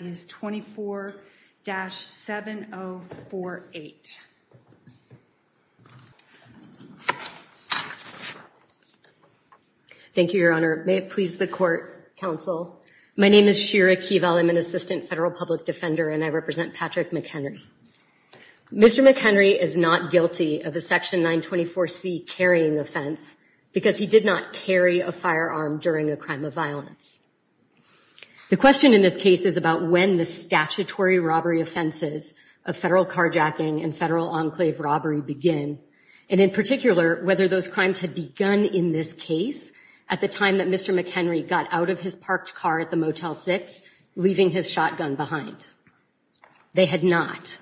is not guilty of a section 924 C carrying offense because he did not carry a firearm during a crime of violence. The question in this case is about whether or not a firearm was carried during a crime of violence. When the statutory robbery offenses of federal carjacking and federal enclave robbery begin and in particular whether those crimes had begun in this case at the time that Mr. McHenry got out of his parked car at the Motel 6 leaving his shotgun behind. They had not.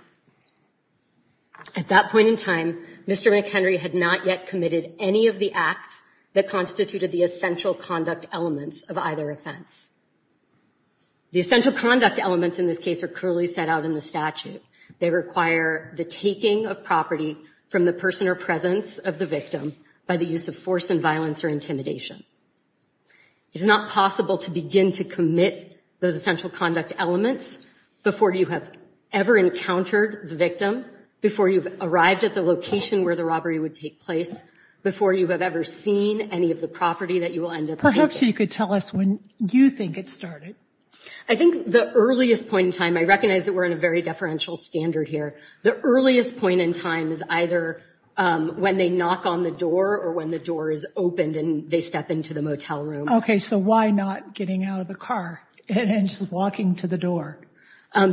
At that point in time, Mr. McHenry had not yet committed any of the acts that constituted the essential conduct elements of either offense. The essential conduct elements in this case are clearly set out in the statute. They require the taking of property from the person or presence of the victim by the use of force and violence or intimidation. It is not possible to begin to commit those essential conduct elements before you have ever encountered the victim, before you've arrived at the location where the robbery would take place, before you have ever seen any of the property that you will end up taking. I hope she could tell us when you think it started. I think the earliest point in time, I recognize that we're in a very deferential standard here. The earliest point in time is either when they knock on the door or when the door is opened and they step into the motel room. OK, so why not getting out of the car and just walking to the door?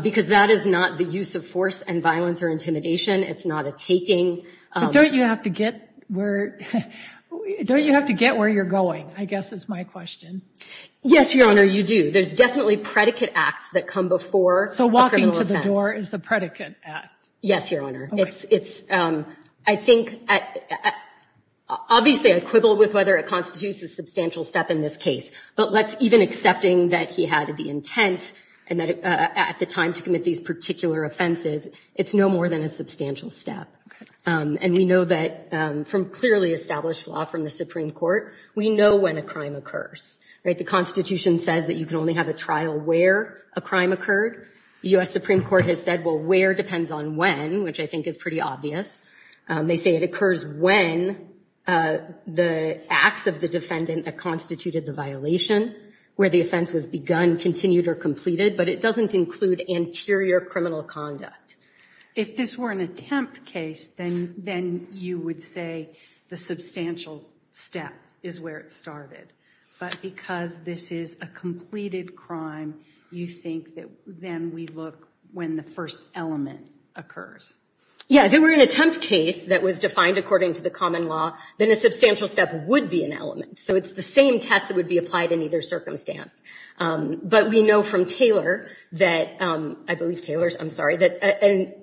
Because that is not the use of force and violence or intimidation. It's not a taking. But don't you have to get where you're going, I guess is my question. Yes, Your Honor, you do. There's definitely predicate acts that come before a criminal offense. So walking to the door is a predicate act? Yes, Your Honor. I think, obviously, I quibble with whether it constitutes a substantial step in this case. But even accepting that he had the intent at the time to commit these particular offenses, it's no more than a substantial step. And we know that from clearly established law from the Supreme Court, we know when a crime occurs. The Constitution says that you can only have a trial where a crime occurred. The U.S. Supreme Court has said, well, where depends on when, which I think is pretty obvious. They say it occurs when the acts of the defendant that constituted the violation, where the offense was begun, continued or completed. But it doesn't include anterior criminal conduct. If this were an attempt case, then you would say the substantial step is where it started. But because this is a completed crime, you think that then we look when the first element occurs. Yeah, if it were an attempt case that was defined according to the common law, then a substantial step would be an element. So it's the same test that would be applied in either circumstance. But we know from Taylor that, I believe Taylor's, I'm sorry, that a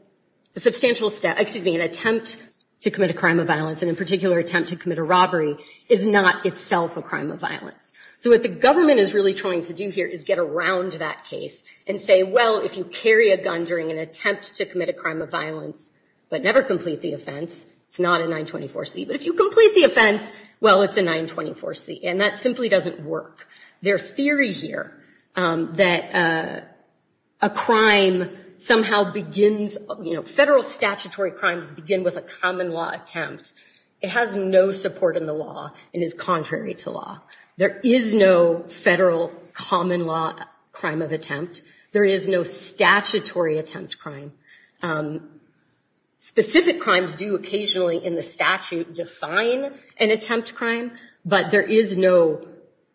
substantial step, excuse me, an attempt to commit a crime of violence and in particular attempt to commit a robbery is not itself a crime of violence. So what the government is really trying to do here is get around that case and say, well, if you carry a gun during an attempt to commit a crime of violence but never complete the offense, it's not a 924C. But if you complete the offense, well, it's a 924C. And that simply doesn't work. Their theory here that a crime somehow begins, you know, federal statutory crimes begin with a common law attempt, it has no support in the law and is contrary to law. There is no federal common law crime of attempt. There is no statutory attempt crime. Specific crimes do occasionally in the statute define an attempt crime, but there is no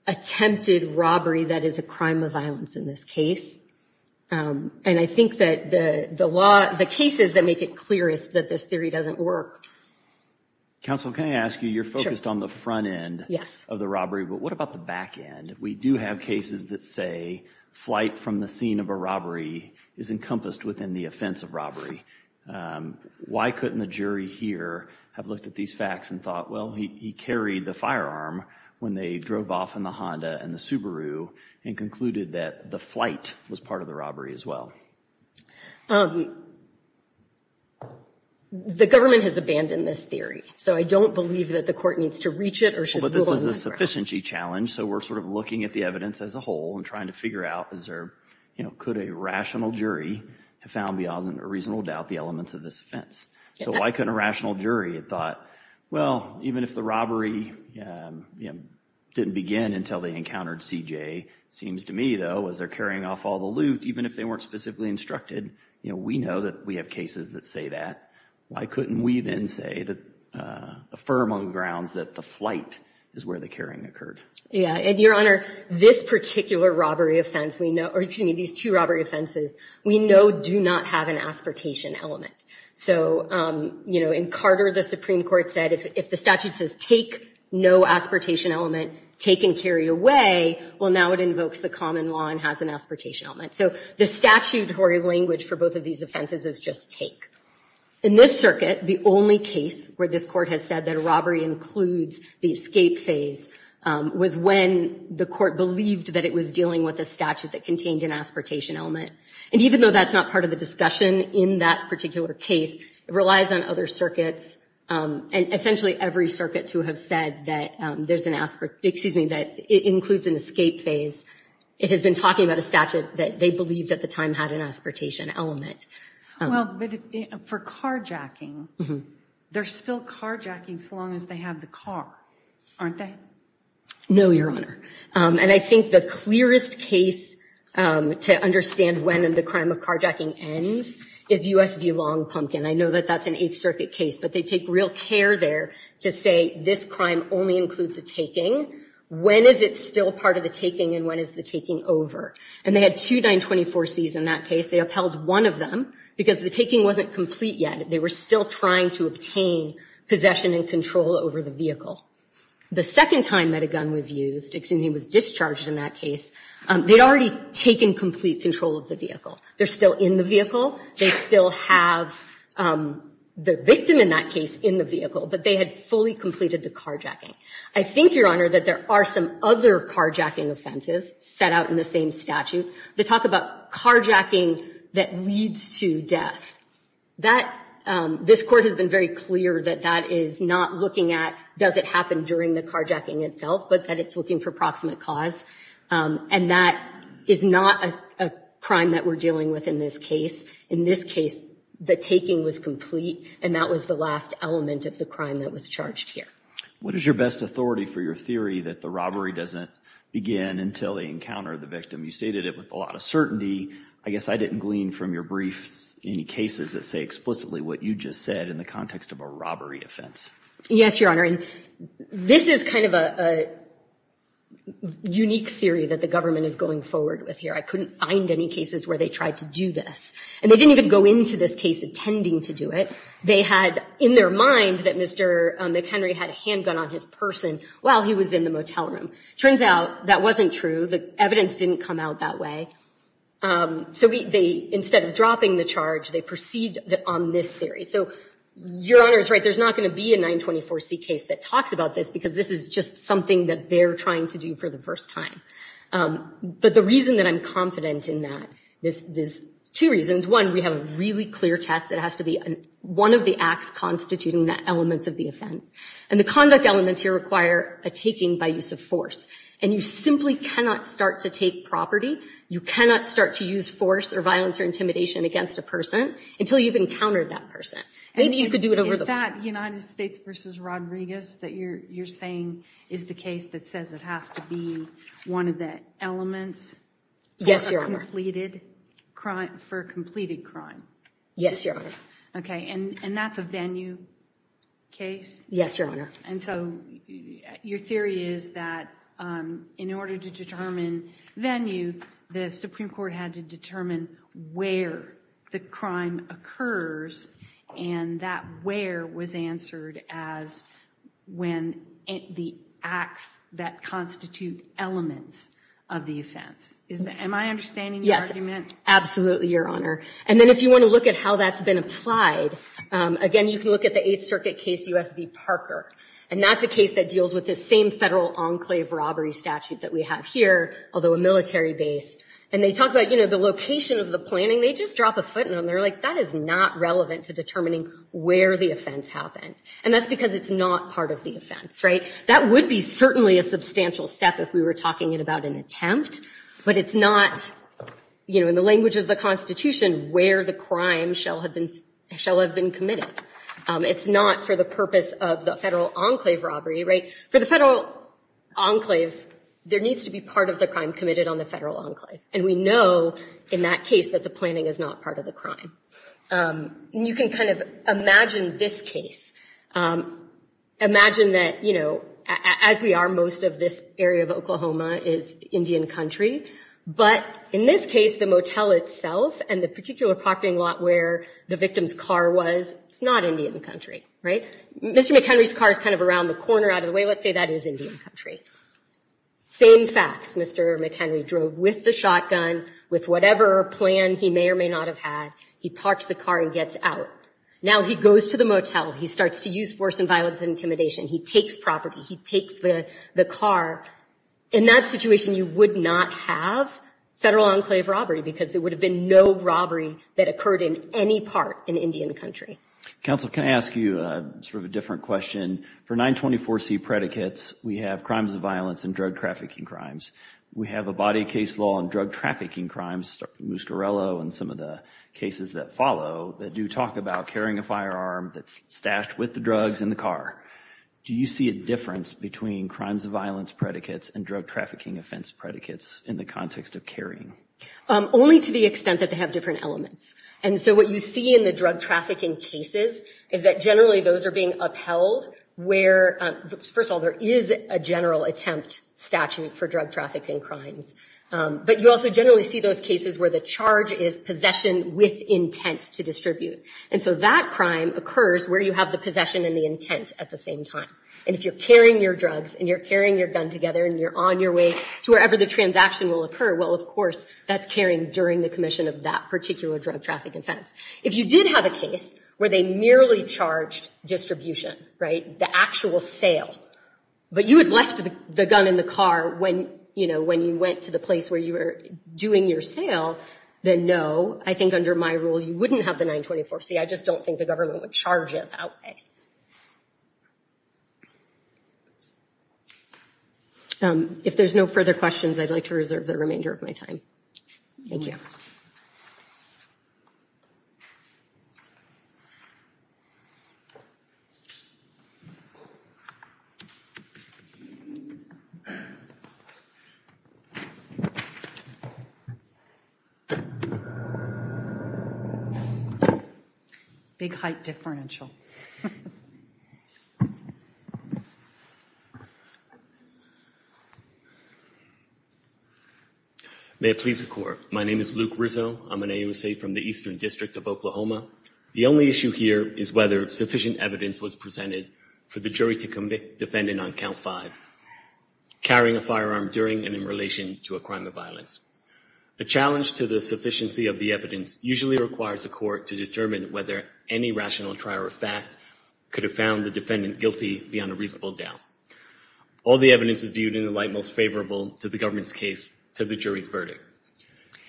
attempted robbery that is a crime of violence in this case. And I think that the law, the cases that make it clear is that this theory doesn't work. Counsel, can I ask you, you're focused on the front end of the robbery, but what about the back end? We do have cases that say flight from the scene of a robbery is encompassed within the offense of robbery. Why couldn't the jury here have looked at these facts and thought, well, he carried the firearm when they drove off in the Honda and the Subaru and concluded that the flight was part of the robbery as well? The government has abandoned this theory, so I don't believe that the court needs to reach it or should rule on that ground. But this is a sufficiency challenge, so we're sort of looking at the evidence as a whole and trying to figure out is there, you know, could a rational jury have found beyond a reasonable doubt the elements of this offense? So why couldn't a rational jury have thought, well, even if the robbery didn't begin until they encountered CJ, it seems to me, though, as they're carrying off all the loot, even if they weren't specifically instructed, you know, we know that we have cases that say that. Why couldn't we then say that, affirm on the grounds that the flight is where the carrying occurred? Yeah, and Your Honor, this particular robbery offense we know, or excuse me, these two robbery offenses, we know do not have an aspartation element. So, you know, in Carter, the Supreme Court said, if the statute says take no aspartation element, take and carry away, well, now it invokes the common law and has an aspartation element. So the statute or language for both of these offenses is just take. In this circuit, the only case where this court has said that a robbery includes the escape phase was when the court believed that it was dealing with a statute that contained an aspartation element. And even though that's not part of the discussion in that particular case, it relies on other circuits and essentially every circuit to have said that there's an aspart, excuse me, that includes an escape phase. It has been talking about a statute that they believed at the time had an aspartation element. Well, but for carjacking, they're still carjacking so long as they have the car, aren't they? No, Your Honor. And I think the clearest case to understand when the crime of carjacking ends is U.S. v. Long Pumpkin. I know that that's an Eighth Circuit case, but they take real care there to say this crime only includes the taking. When is it still part of the taking and when is the taking over? And they had two 924Cs in that case. They upheld one of them because the taking wasn't complete yet. They were still trying to obtain possession and control over the vehicle. The second time that a gun was used, excuse me, was discharged in that case, they'd already taken complete control of the vehicle. They're still in the vehicle. They still have the victim in that case in the vehicle, but they had fully completed the carjacking. I think, Your Honor, that there are some other carjacking offenses set out in the same statute that talk about carjacking that leads to death. This Court has been very clear that that is not looking at does it happen during the carjacking itself, but that it's looking for proximate cause. And that is not a crime that we're dealing with in this case. In this case, the taking was complete, and that was the last element of the crime that was charged here. What is your best authority for your theory that the robbery doesn't begin until they encounter the victim? You stated it with a lot of certainty. I guess I didn't glean from your briefs any cases that say explicitly what you just said in the context of a robbery offense. Yes, Your Honor. And this is kind of a unique theory that the government is going forward with here. I couldn't find any cases where they tried to do this. And they didn't even go into this case intending to do it. They had in their mind that Mr. McHenry had a handgun on his person while he was in the motel room. Turns out that wasn't true. The evidence didn't come out that way. So instead of dropping the charge, they proceed on this theory. So Your Honor is right. There's not going to be a 924C case that talks about this because this is just something that they're trying to do for the first time. But the reason that I'm confident in that, there's two reasons. One, we have a really clear test that has to be one of the acts constituting the elements of the offense. And the conduct elements here require a taking by use of force. And you simply cannot start to take property. You cannot start to use force or violence or intimidation against a person until you've encountered that person. Maybe you could do it over the phone. Is that United States v. Rodriguez that you're saying is the case that says it has to be one of the elements? Yes, Your Honor. For a completed crime? Yes, Your Honor. Okay, and that's a venue case? Yes, Your Honor. And so your theory is that in order to determine venue, the Supreme Court had to determine where the crime occurs. And that where was answered as when the acts that constitute elements of the offense. Am I understanding your argument? Yes, absolutely, Your Honor. And then if you want to look at how that's been applied, again, you can look at the Eighth Circuit case, U.S. v. Parker. And that's a case that deals with the same federal enclave robbery statute that we have here, although a military-based. And they talk about, you know, the location of the planning. They just drop a footnote. And they're like, that is not relevant to determining where the offense happened. And that's because it's not part of the offense, right? That would be certainly a substantial step if we were talking about an attempt. But it's not, you know, in the language of the Constitution, where the crime shall have been committed. It's not for the purpose of the federal enclave robbery, right? For the federal enclave, there needs to be part of the crime committed on the federal enclave. And we know in that case that the planning is not part of the crime. And you can kind of imagine this case. Imagine that, you know, as we are, most of this area of Oklahoma is Indian country. But in this case, the motel itself and the particular parking lot where the victim's car was, it's not Indian country, right? Mr. McHenry's car is kind of around the corner out of the way. Let's say that is Indian country. Same facts. Mr. McHenry drove with the shotgun, with whatever plan he may or may not have had. He parks the car and gets out. Now he goes to the motel. He starts to use force and violence and intimidation. He takes property. He takes the car. In that situation, you would not have federal enclave robbery because there would have been no robbery that occurred in any part in Indian country. Counsel, can I ask you sort of a different question? For 924C predicates, we have crimes of violence and drug trafficking crimes. We have a body case law on drug trafficking crimes, Muscarello and some of the cases that follow, that do talk about carrying a firearm that's stashed with the drugs in the car. Do you see a difference between crimes of violence predicates and drug trafficking offense predicates in the context of carrying? Only to the extent that they have different elements. And so what you see in the drug trafficking cases is that generally those are being upheld where, first of all, there is a general attempt statute for drug trafficking crimes. But you also generally see those cases where the charge is possession with intent to distribute. And so that crime occurs where you have the possession and the intent at the same time. And if you're carrying your drugs and you're carrying your gun together and you're on your way to wherever the transaction will occur, well, of course, that's carrying during the commission of that particular drug trafficking offense. If you did have a case where they merely charged distribution, right, the actual sale, but you had left the gun in the car when, you know, when you went to the place where you were doing your sale, then no, I think under my rule you wouldn't have the 924C. I just don't think the government would charge it that way. If there's no further questions, I'd like to reserve the remainder of my time. Thank you. Thank you. Big height differential. May it please the Court. My name is Luke Rizzo. I'm an AUSA from the Eastern District of Oklahoma. The only issue here is whether sufficient evidence was presented for the jury to convict defendant on count five, carrying a firearm during and in relation to a crime of violence. The challenge to the sufficiency of the evidence usually requires a court to determine whether any rational trial or fact could have found the defendant guilty beyond a reasonable doubt. All the evidence is viewed in the light most favorable to the government's case to the jury's verdict.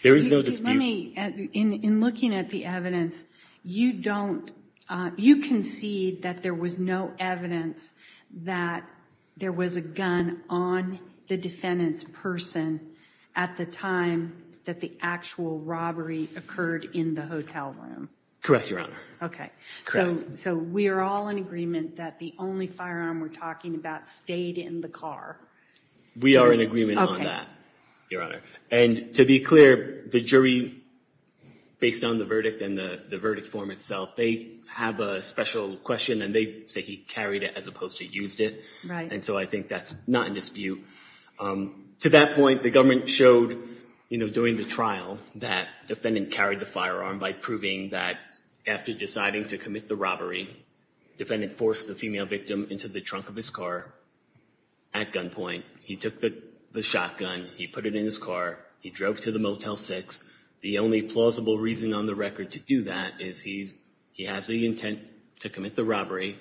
There is no dispute. Let me, in looking at the evidence, you don't, you concede that there was no evidence that there was a gun on the actual robbery occurred in the hotel room? Correct, Your Honor. Okay. So we are all in agreement that the only firearm we're talking about stayed in the car? We are in agreement on that, Your Honor. And to be clear, the jury, based on the verdict and the verdict form itself, they have a special question and they say he carried it as opposed to used it. And so I think that's not in dispute. To that point, the government showed, you know, during the trial that defendant carried the firearm by proving that after deciding to commit the robbery, defendant forced the female victim into the trunk of his car at gunpoint. He took the shotgun, he put it in his car, he drove to the Motel 6. The only plausible reason on the record to do that is he has the intent to commit the robbery.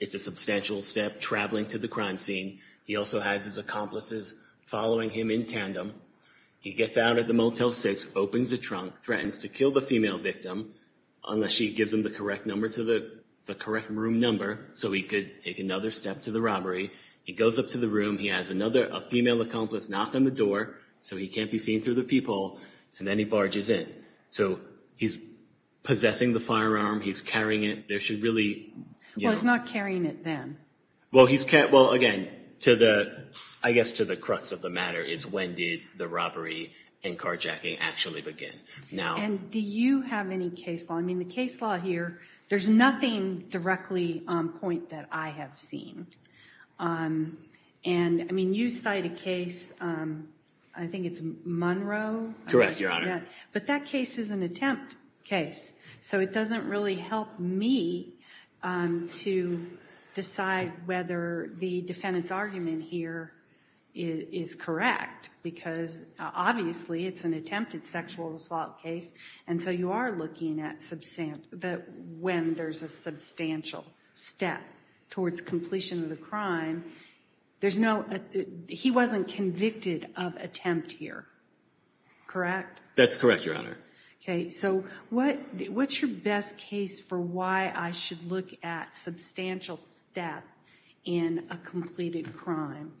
It's a substantial step traveling to the crime scene. He also has his accomplices following him in tandem. He gets out of the Motel 6, opens the trunk, threatens to kill the female victim, unless she gives him the correct room number so he could take another step to the robbery. He goes up to the room. He has a female accomplice knock on the door so he can't be seen through the peephole, and then he barges in. So he's possessing the firearm. He's carrying it. There should really be no— Well, he's not carrying it then. Well, again, I guess to the crux of the matter is when did the robbery and carjacking actually begin? And do you have any case law? I mean, the case law here, there's nothing directly on point that I have seen. And, I mean, you cite a case, I think it's Monroe? Correct, Your Honor. But that case is an attempt case. So it doesn't really help me to decide whether the defendant's argument here is correct because obviously it's an attempted sexual assault case, and so you are looking at when there's a substantial step towards completion of the crime. There's no—he wasn't convicted of attempt here, correct? That's correct, Your Honor. Okay, so what's your best case for why I should look at substantial step in a completed crime?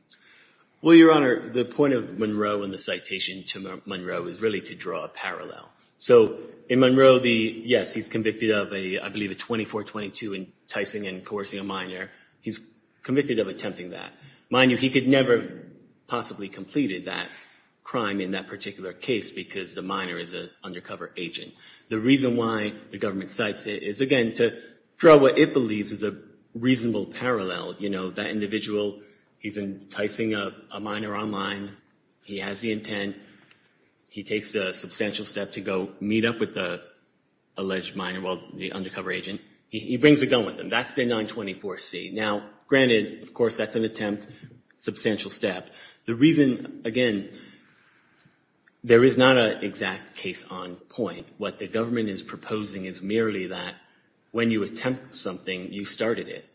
Well, Your Honor, the point of Monroe and the citation to Monroe is really to draw a parallel. So in Monroe, yes, he's convicted of, I believe, a 24-22 enticing and coercing a minor. He's convicted of attempting that. Mind you, he could never have possibly completed that crime in that particular case because the minor is an undercover agent. The reason why the government cites it is, again, to draw what it believes is a reasonable parallel. You know, that individual, he's enticing a minor online. He has the intent. He takes a substantial step to go meet up with the alleged minor, well, the undercover agent. He brings a gun with him. That's the 924C. Now, granted, of course, that's an attempt, substantial step. But the reason, again, there is not an exact case on point. What the government is proposing is merely that when you attempt something, you started it.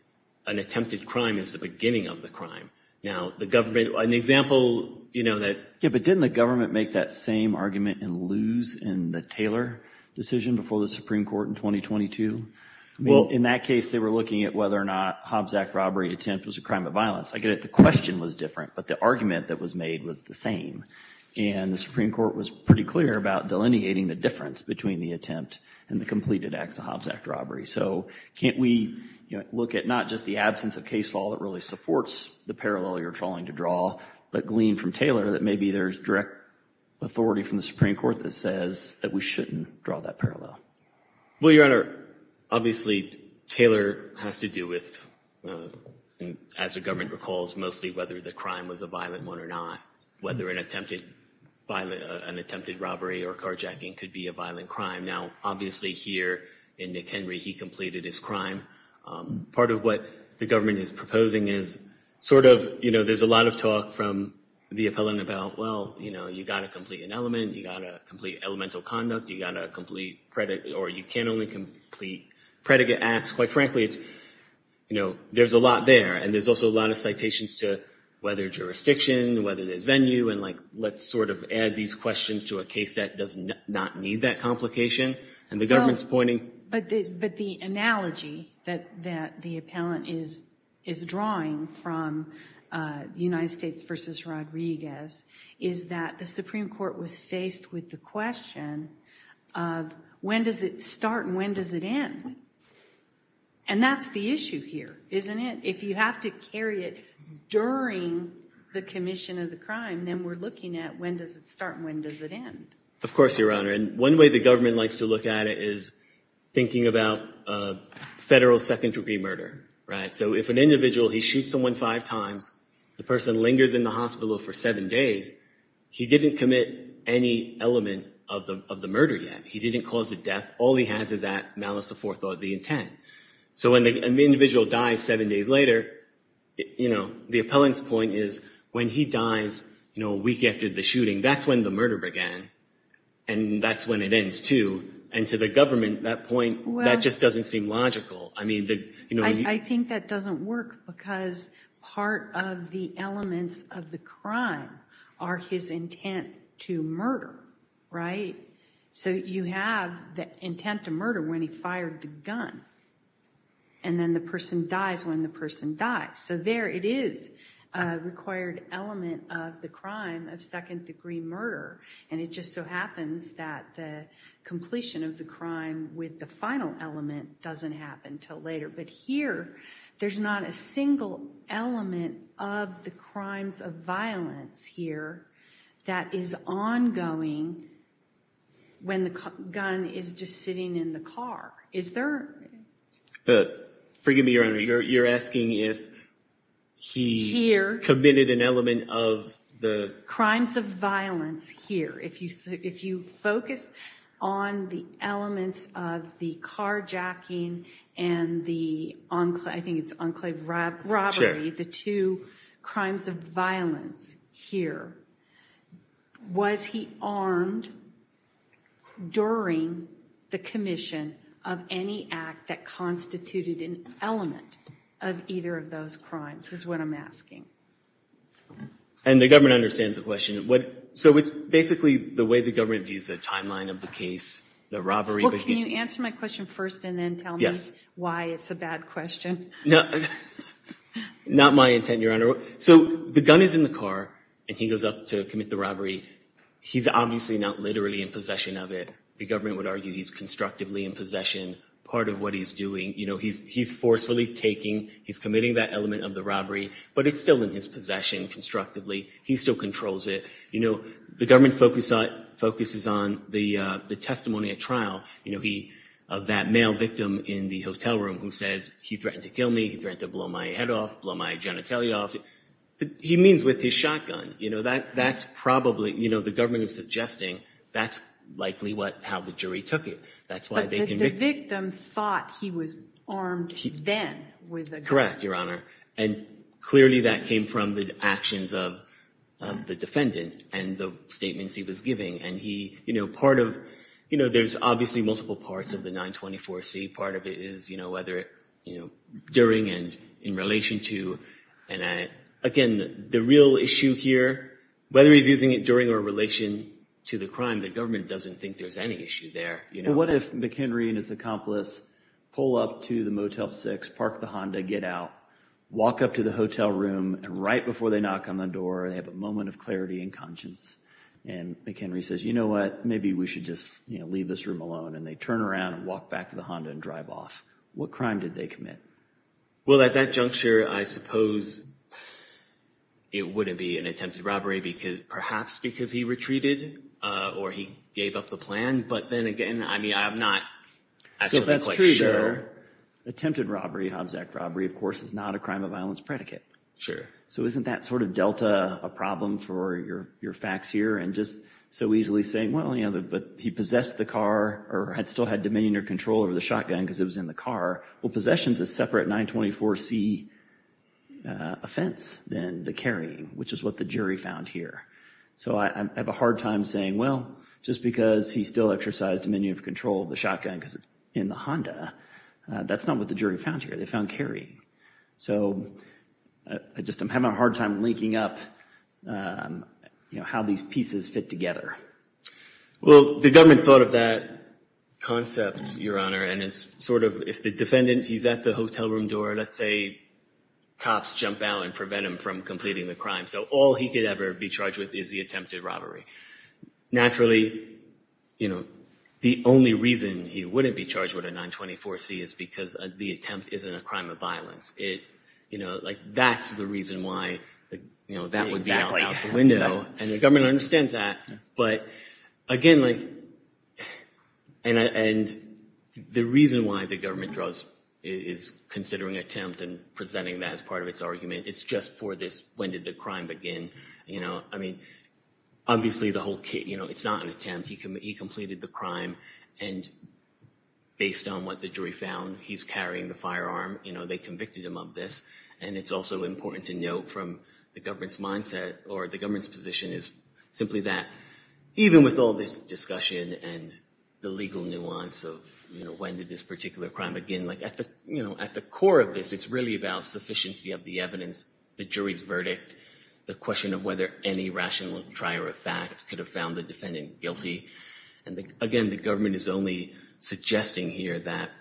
An attempted crime is the beginning of the crime. Now, the government, an example, you know, that— Yeah, but didn't the government make that same argument and lose in the Taylor decision before the Supreme Court in 2022? I mean, in that case, they were looking at whether or not Hobbs Act robbery attempt was a crime of violence. I get it. The question was different, but the argument that was made was the same. And the Supreme Court was pretty clear about delineating the difference between the attempt and the completed acts of Hobbs Act robbery. So can't we, you know, look at not just the absence of case law that really supports the parallel you're trying to draw, but glean from Taylor that maybe there's direct authority from the Supreme Court that says that we shouldn't draw that parallel? Well, Your Honor, obviously, Taylor has to do with, as the government recalls, mostly whether the crime was a violent one or not, whether an attempted robbery or carjacking could be a violent crime. Now, obviously, here in Nick Henry, he completed his crime. Part of what the government is proposing is sort of, you know, there's a lot of talk from the appellant about, well, you know, you've got to complete an element, you've got to complete elemental conduct, you've got to complete or you can only complete predicate acts. Quite frankly, it's, you know, there's a lot there. And there's also a lot of citations to whether jurisdiction, whether there's venue, and like let's sort of add these questions to a case that does not need that complication. But the analogy that the appellant is drawing from United States v. Rodriguez is that the Supreme Court was faced with the question of when does it start and when does it end? And that's the issue here, isn't it? If you have to carry it during the commission of the crime, then we're looking at when does it start and when does it end? Of course, Your Honor. And one way the government likes to look at it is thinking about federal second-degree murder, right? So if an individual, he shoots someone five times, the person lingers in the hospital for seven days, he didn't commit any element of the murder yet. He didn't cause a death. All he has is that malice of forethought, the intent. So when an individual dies seven days later, you know, the appellant's point is when he dies, you know, a week after the shooting, that's when the murder began. And that's when it ends, too. And to the government, that point, that just doesn't seem logical. I think that doesn't work because part of the elements of the crime are his intent to murder, right? So you have the intent to murder when he fired the gun. And then the person dies when the person dies. So there it is, a required element of the crime of second-degree murder. And it just so happens that the completion of the crime with the final element doesn't happen until later. But here, there's not a single element of the crimes of violence here that is ongoing when the gun is just sitting in the car. Forgive me, Your Honor. You're asking if he committed an element of the- Crimes of violence here. If you focus on the elements of the carjacking and the, I think it's enclave robbery, the two crimes of violence here, was he armed during the commission of any act that constituted an element of either of those crimes is what I'm asking. And the government understands the question. So it's basically the way the government views the timeline of the case, the robbery- Well, can you answer my question first and then tell me why it's a bad question? No, not my intent, Your Honor. So the gun is in the car and he goes up to commit the robbery. He's obviously not literally in possession of it. The government would argue he's constructively in possession, part of what he's doing. He's forcefully taking, he's committing that element of the robbery, but it's still in his possession constructively. He still controls it. The government focuses on the testimony at trial of that male victim in the hotel room who says, he threatened to kill me, he threatened to blow my head off, blow my genitalia off. He means with his shotgun, you know, that's probably, you know, the government is suggesting that's likely how the jury took it. That's why they convicted- But the victim thought he was armed then with a gun. Correct, Your Honor. And clearly that came from the actions of the defendant and the statements he was giving. And he, you know, part of, you know, there's obviously multiple parts of the 924C. Part of it is, you know, whether, you know, during and in relation to, and again, the real issue here, whether he's using it during or in relation to the crime, the government doesn't think there's any issue there. What if McHenry and his accomplice pull up to the Motel 6, park the Honda, get out, walk up to the hotel room, and right before they knock on the door, they have a moment of clarity and conscience. And McHenry says, you know what, maybe we should just, you know, leave this room alone. And they turn around and walk back to the Honda and drive off. What crime did they commit? Well, at that juncture, I suppose it wouldn't be an attempted robbery, perhaps because he retreated or he gave up the plan. But then again, I mean, I'm not absolutely sure. So if that's true, attempted robbery, Hobbs Act robbery, of course, is not a crime of violence predicate. Sure. So isn't that sort of delta a problem for your facts here? And just so easily saying, well, you know, but he possessed the car or had still had dominion or control over the shotgun because it was in the car. Well, possession is a separate 924c offense than the carrying, which is what the jury found here. So I have a hard time saying, well, just because he still exercised dominion of control of the shotgun because it's in the Honda, that's not what the jury found here. They found carrying. So I just am having a hard time linking up, you know, how these pieces fit together. Well, the government thought of that concept, Your Honor, and it's sort of if the defendant, he's at the hotel room door, let's say cops jump out and prevent him from completing the crime. So all he could ever be charged with is the attempted robbery. Naturally, you know, the only reason he wouldn't be charged with a 924c is because the attempt isn't a crime of violence. It, you know, like that's the reason why, you know, that would be out the window. And the government understands that. But again, like and the reason why the government draws is considering attempt and presenting that as part of its argument. It's just for this. When did the crime begin? You know, I mean, obviously the whole case, you know, it's not an attempt. He completed the crime. And based on what the jury found, he's carrying the firearm. You know, they convicted him of this. And it's also important to note from the government's mindset or the government's position is simply that even with all this discussion and the legal nuance of, you know, when did this particular crime begin? Like at the, you know, at the core of this, it's really about sufficiency of the evidence. The jury's verdict, the question of whether any rational trier of fact could have found the defendant guilty. And again, the government is only suggesting here that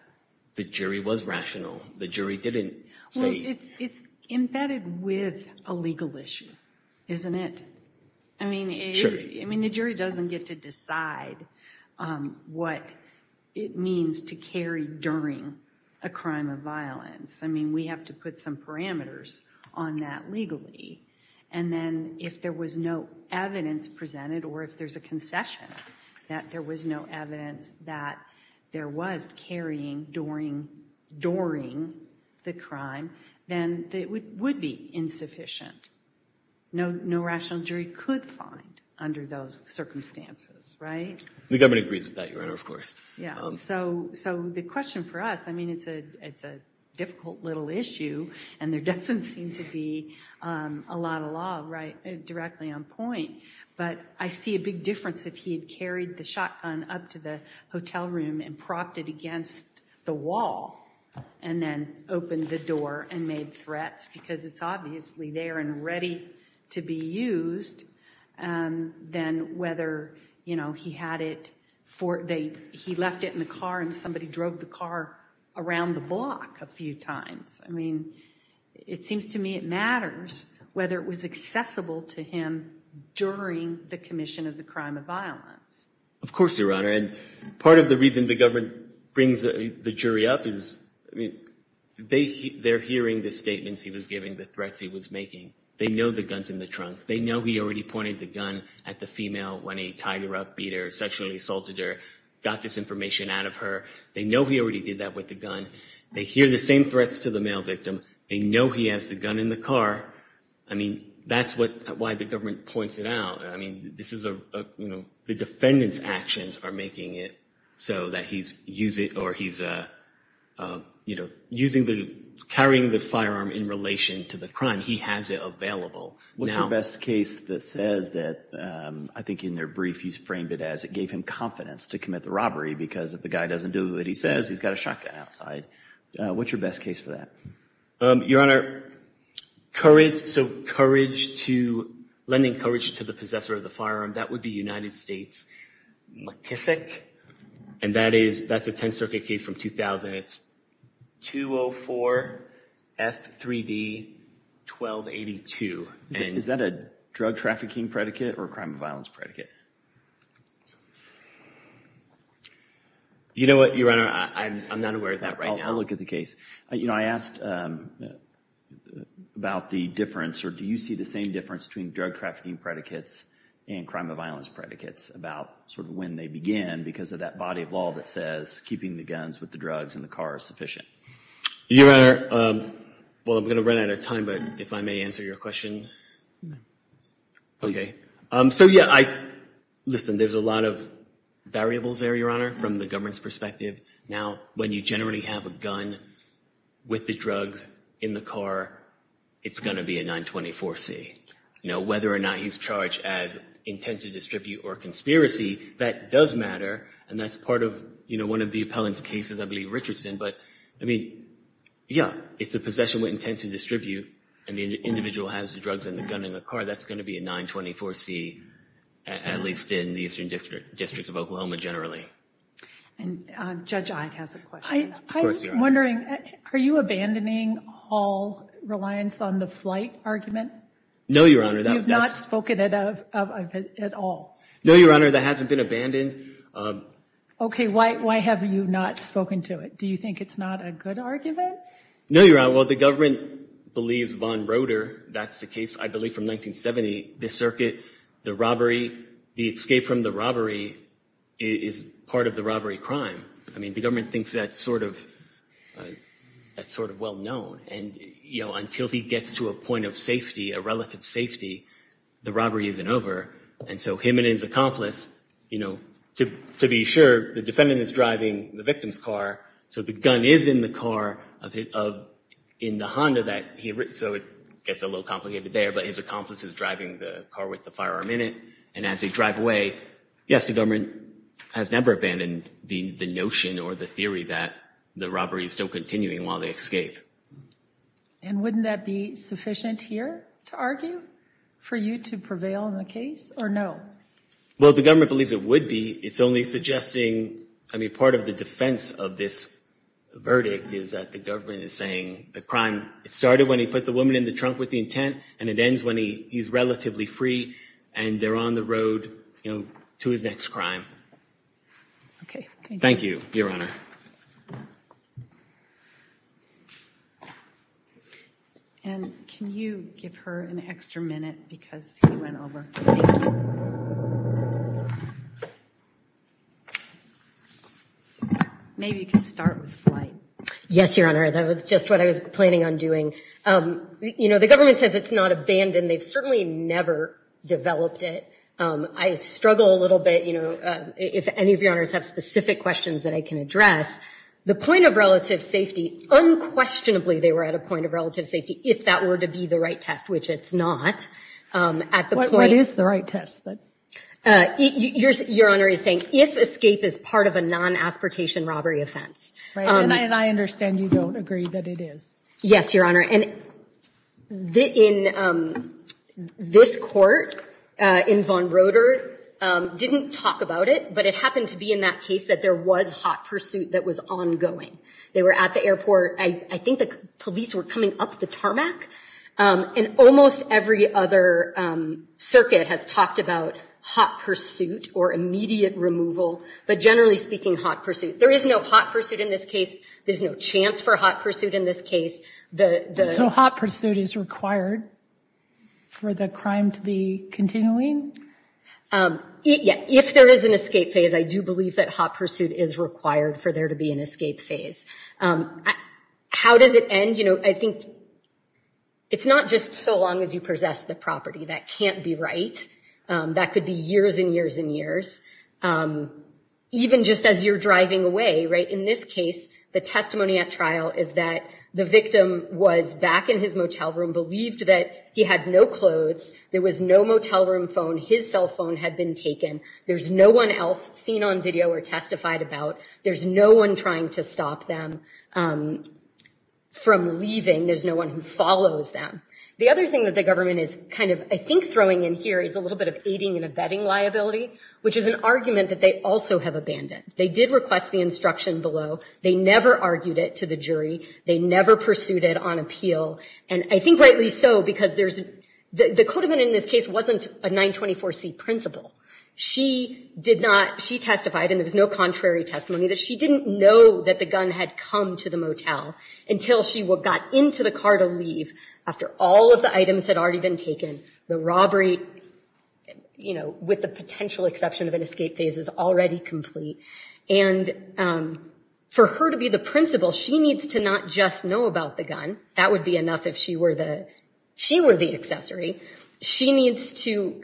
the jury was rational. The jury didn't say. It's embedded with a legal issue, isn't it? I mean, the jury doesn't get to decide what it means to carry during a crime of violence. I mean, we have to put some parameters on that legally. And then if there was no evidence presented or if there's a concession that there was no evidence that there was carrying during the crime, then it would be insufficient. No rational jury could find under those circumstances, right? The government agrees with that, Your Honor, of course. Yeah. So so the question for us, I mean, it's a it's a difficult little issue and there doesn't seem to be a lot of law, right? Directly on point. But I see a big difference if he had carried the shotgun up to the hotel room and propped it against the wall and then opened the door and made threats because it's obviously there and ready to be used. Then whether, you know, he had it for they he left it in the car and somebody drove the car around the block a few times. I mean, it seems to me it matters whether it was accessible to him during the commission of the crime of violence. Of course, Your Honor. And part of the reason the government brings the jury up is they they're hearing the statements he was giving, the threats he was making. They know the guns in the trunk. They know he already pointed the gun at the female when he tied her up, beat her, sexually assaulted her. Got this information out of her. They know he already did that with the gun. They hear the same threats to the male victim. They know he has the gun in the car. I mean, that's what why the government points it out. I mean, this is, you know, the defendant's actions are making it so that he's use it or he's, you know, using the carrying the firearm in relation to the crime. He has it available. What's your best case that says that I think in their brief you framed it as it gave him confidence to commit the robbery because if the guy doesn't do what he says, he's got a shotgun outside. What's your best case for that? Your Honor. Courage. So courage to lending courage to the possessor of the firearm. That would be United States McKissick. And that is, that's a 10th Circuit case from 2000. It's 204 F3D 1282. Is that a drug trafficking predicate or a crime of violence predicate? You know what, Your Honor, I'm not aware of that right now. I'll look at the case. You know, I asked about the difference or do you see the same difference between drug trafficking predicates and crime of violence predicates about sort of when they begin because of that body of law that says keeping the guns with the drugs in the car is sufficient? Your Honor, well, I'm going to run out of time, but if I may answer your question. Okay. So yeah, I listen, there's a lot of variables there, Your Honor, from the government's perspective. Now, when you generally have a gun with the drugs in the car, it's going to be a 924 C. You know, whether or not he's charged as intent to distribute or conspiracy, that does matter. And that's part of, you know, one of the appellant's cases, I believe Richardson. But, I mean, yeah, it's a possession with intent to distribute and the individual has the drugs and the gun in the car. That's going to be a 924 C, at least in the Eastern District of Oklahoma generally. And Judge Ide has a question. I was wondering, are you abandoning all reliance on the flight argument? No, Your Honor. You've not spoken of it at all. No, Your Honor, that hasn't been abandoned. Okay. Why have you not spoken to it? Do you think it's not a good argument? No, Your Honor. Well, the government believes Von Roeder. That's the case, I believe, from 1970. The circuit, the robbery, the escape from the robbery is part of the robbery crime. I mean, the government thinks that's sort of well known. And, you know, until he gets to a point of safety, a relative safety, the robbery isn't over. And so him and his accomplice, you know, to be sure, the defendant is driving the victim's car, so the gun is in the car of in the Honda that he, so it gets a little complicated there, but his accomplice is driving the car with the firearm in it. And as they drive away, yes, the government has never abandoned the notion or the theory that the robbery is still continuing while they escape. And wouldn't that be sufficient here to argue for you to prevail in the case or no? Well, the government believes it would be. It's only suggesting, I mean, part of the defense of this verdict is that the government is saying the crime, it started when he put the woman in the trunk with the intent and it ends when he's relatively free and they're on the road, you know, to his next crime. Okay. Thank you. Thank you, Your Honor. And can you give her an extra minute because he went over. Maybe you can start with Slate. Yes, Your Honor. That was just what I was planning on doing. You know, the government says it's not abandoned. They've certainly never developed it. I struggle a little bit, you know, if any of Your Honors have specific questions that I can address. The point of relative safety, unquestionably they were at a point of relative safety if that were to be the right test, which it's not. What is the right test? Your Honor is saying if escape is part of a non-aspertation robbery offense. And I understand you don't agree that it is. Yes, Your Honor. And this court in Von Roeder didn't talk about it, but it happened to be in that case that there was hot pursuit that was ongoing. They were at the airport. I think the police were coming up the tarmac. And almost every other circuit has talked about hot pursuit or immediate removal. But generally speaking, hot pursuit. There is no hot pursuit in this case. There's no chance for hot pursuit in this case. So hot pursuit is required for the crime to be continuing? Yeah. If there is an escape phase, I do believe that hot pursuit is required for there to be an escape phase. How does it end? You know, I think it's not just so long as you possess the property. That can't be right. That could be years and years and years. Even just as you're driving away, right? In this case, the testimony at trial is that the victim was back in his motel room, believed that he had no clothes. There was no motel room phone. His cell phone had been taken. There's no one else seen on video or testified about. There's no one trying to stop them from leaving. There's no one who follows them. The other thing that the government is kind of, I think, throwing in here is a little bit of aiding and abetting liability, which is an argument that they also have abandoned. They did request the instruction below. They never argued it to the jury. They never pursued it on appeal. And I think rightly so, because there's the code of it in this case wasn't a 924C principle. She did not. She testified, and there was no contrary testimony, that she didn't know that the gun had come to the motel until she got into the car to leave after all of the items had already been taken. The robbery, you know, with the potential exception of an escape phase, is already complete. And for her to be the principle, she needs to not just know about the gun. That would be enough if she were the accessory. She needs to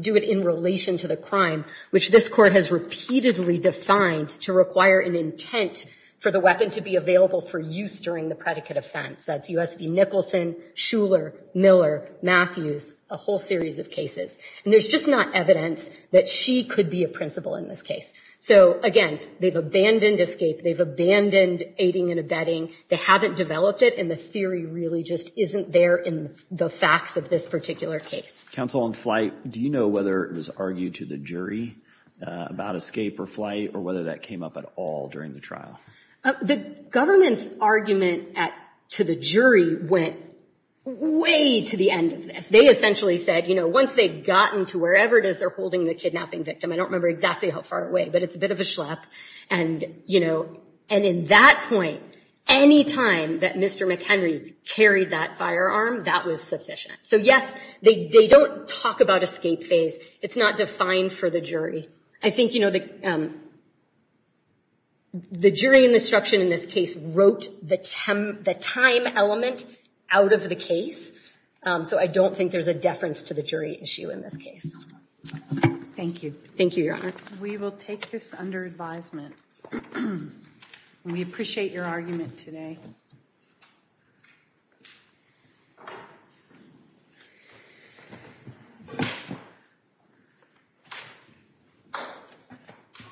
do it in relation to the crime, which this court has repeatedly defined to require an intent for the weapon to be available for use during the predicate offense. That's U.S. v. Nicholson, Shuler, Miller, Matthews, a whole series of cases. And there's just not evidence that she could be a principle in this case. So, again, they've abandoned escape. They've abandoned aiding and abetting. They haven't developed it, and the theory really just isn't there in the facts of this particular case. Counsel on flight, do you know whether it was argued to the jury about escape or flight or whether that came up at all during the trial? The government's argument to the jury went way to the end of this. They essentially said, you know, once they've gotten to wherever it is they're holding the kidnapping victim, I don't remember exactly how far away, but it's a bit of a schlep. And, you know, and in that point, any time that Mr. McHenry carried that firearm, that was sufficient. So, yes, they don't talk about escape phase. It's not defined for the jury. I think, you know, the jury in this case wrote the time element out of the case. So I don't think there's a deference to the jury issue in this case. Thank you. Thank you, Your Honor. We will take this under advisement. We appreciate your argument today.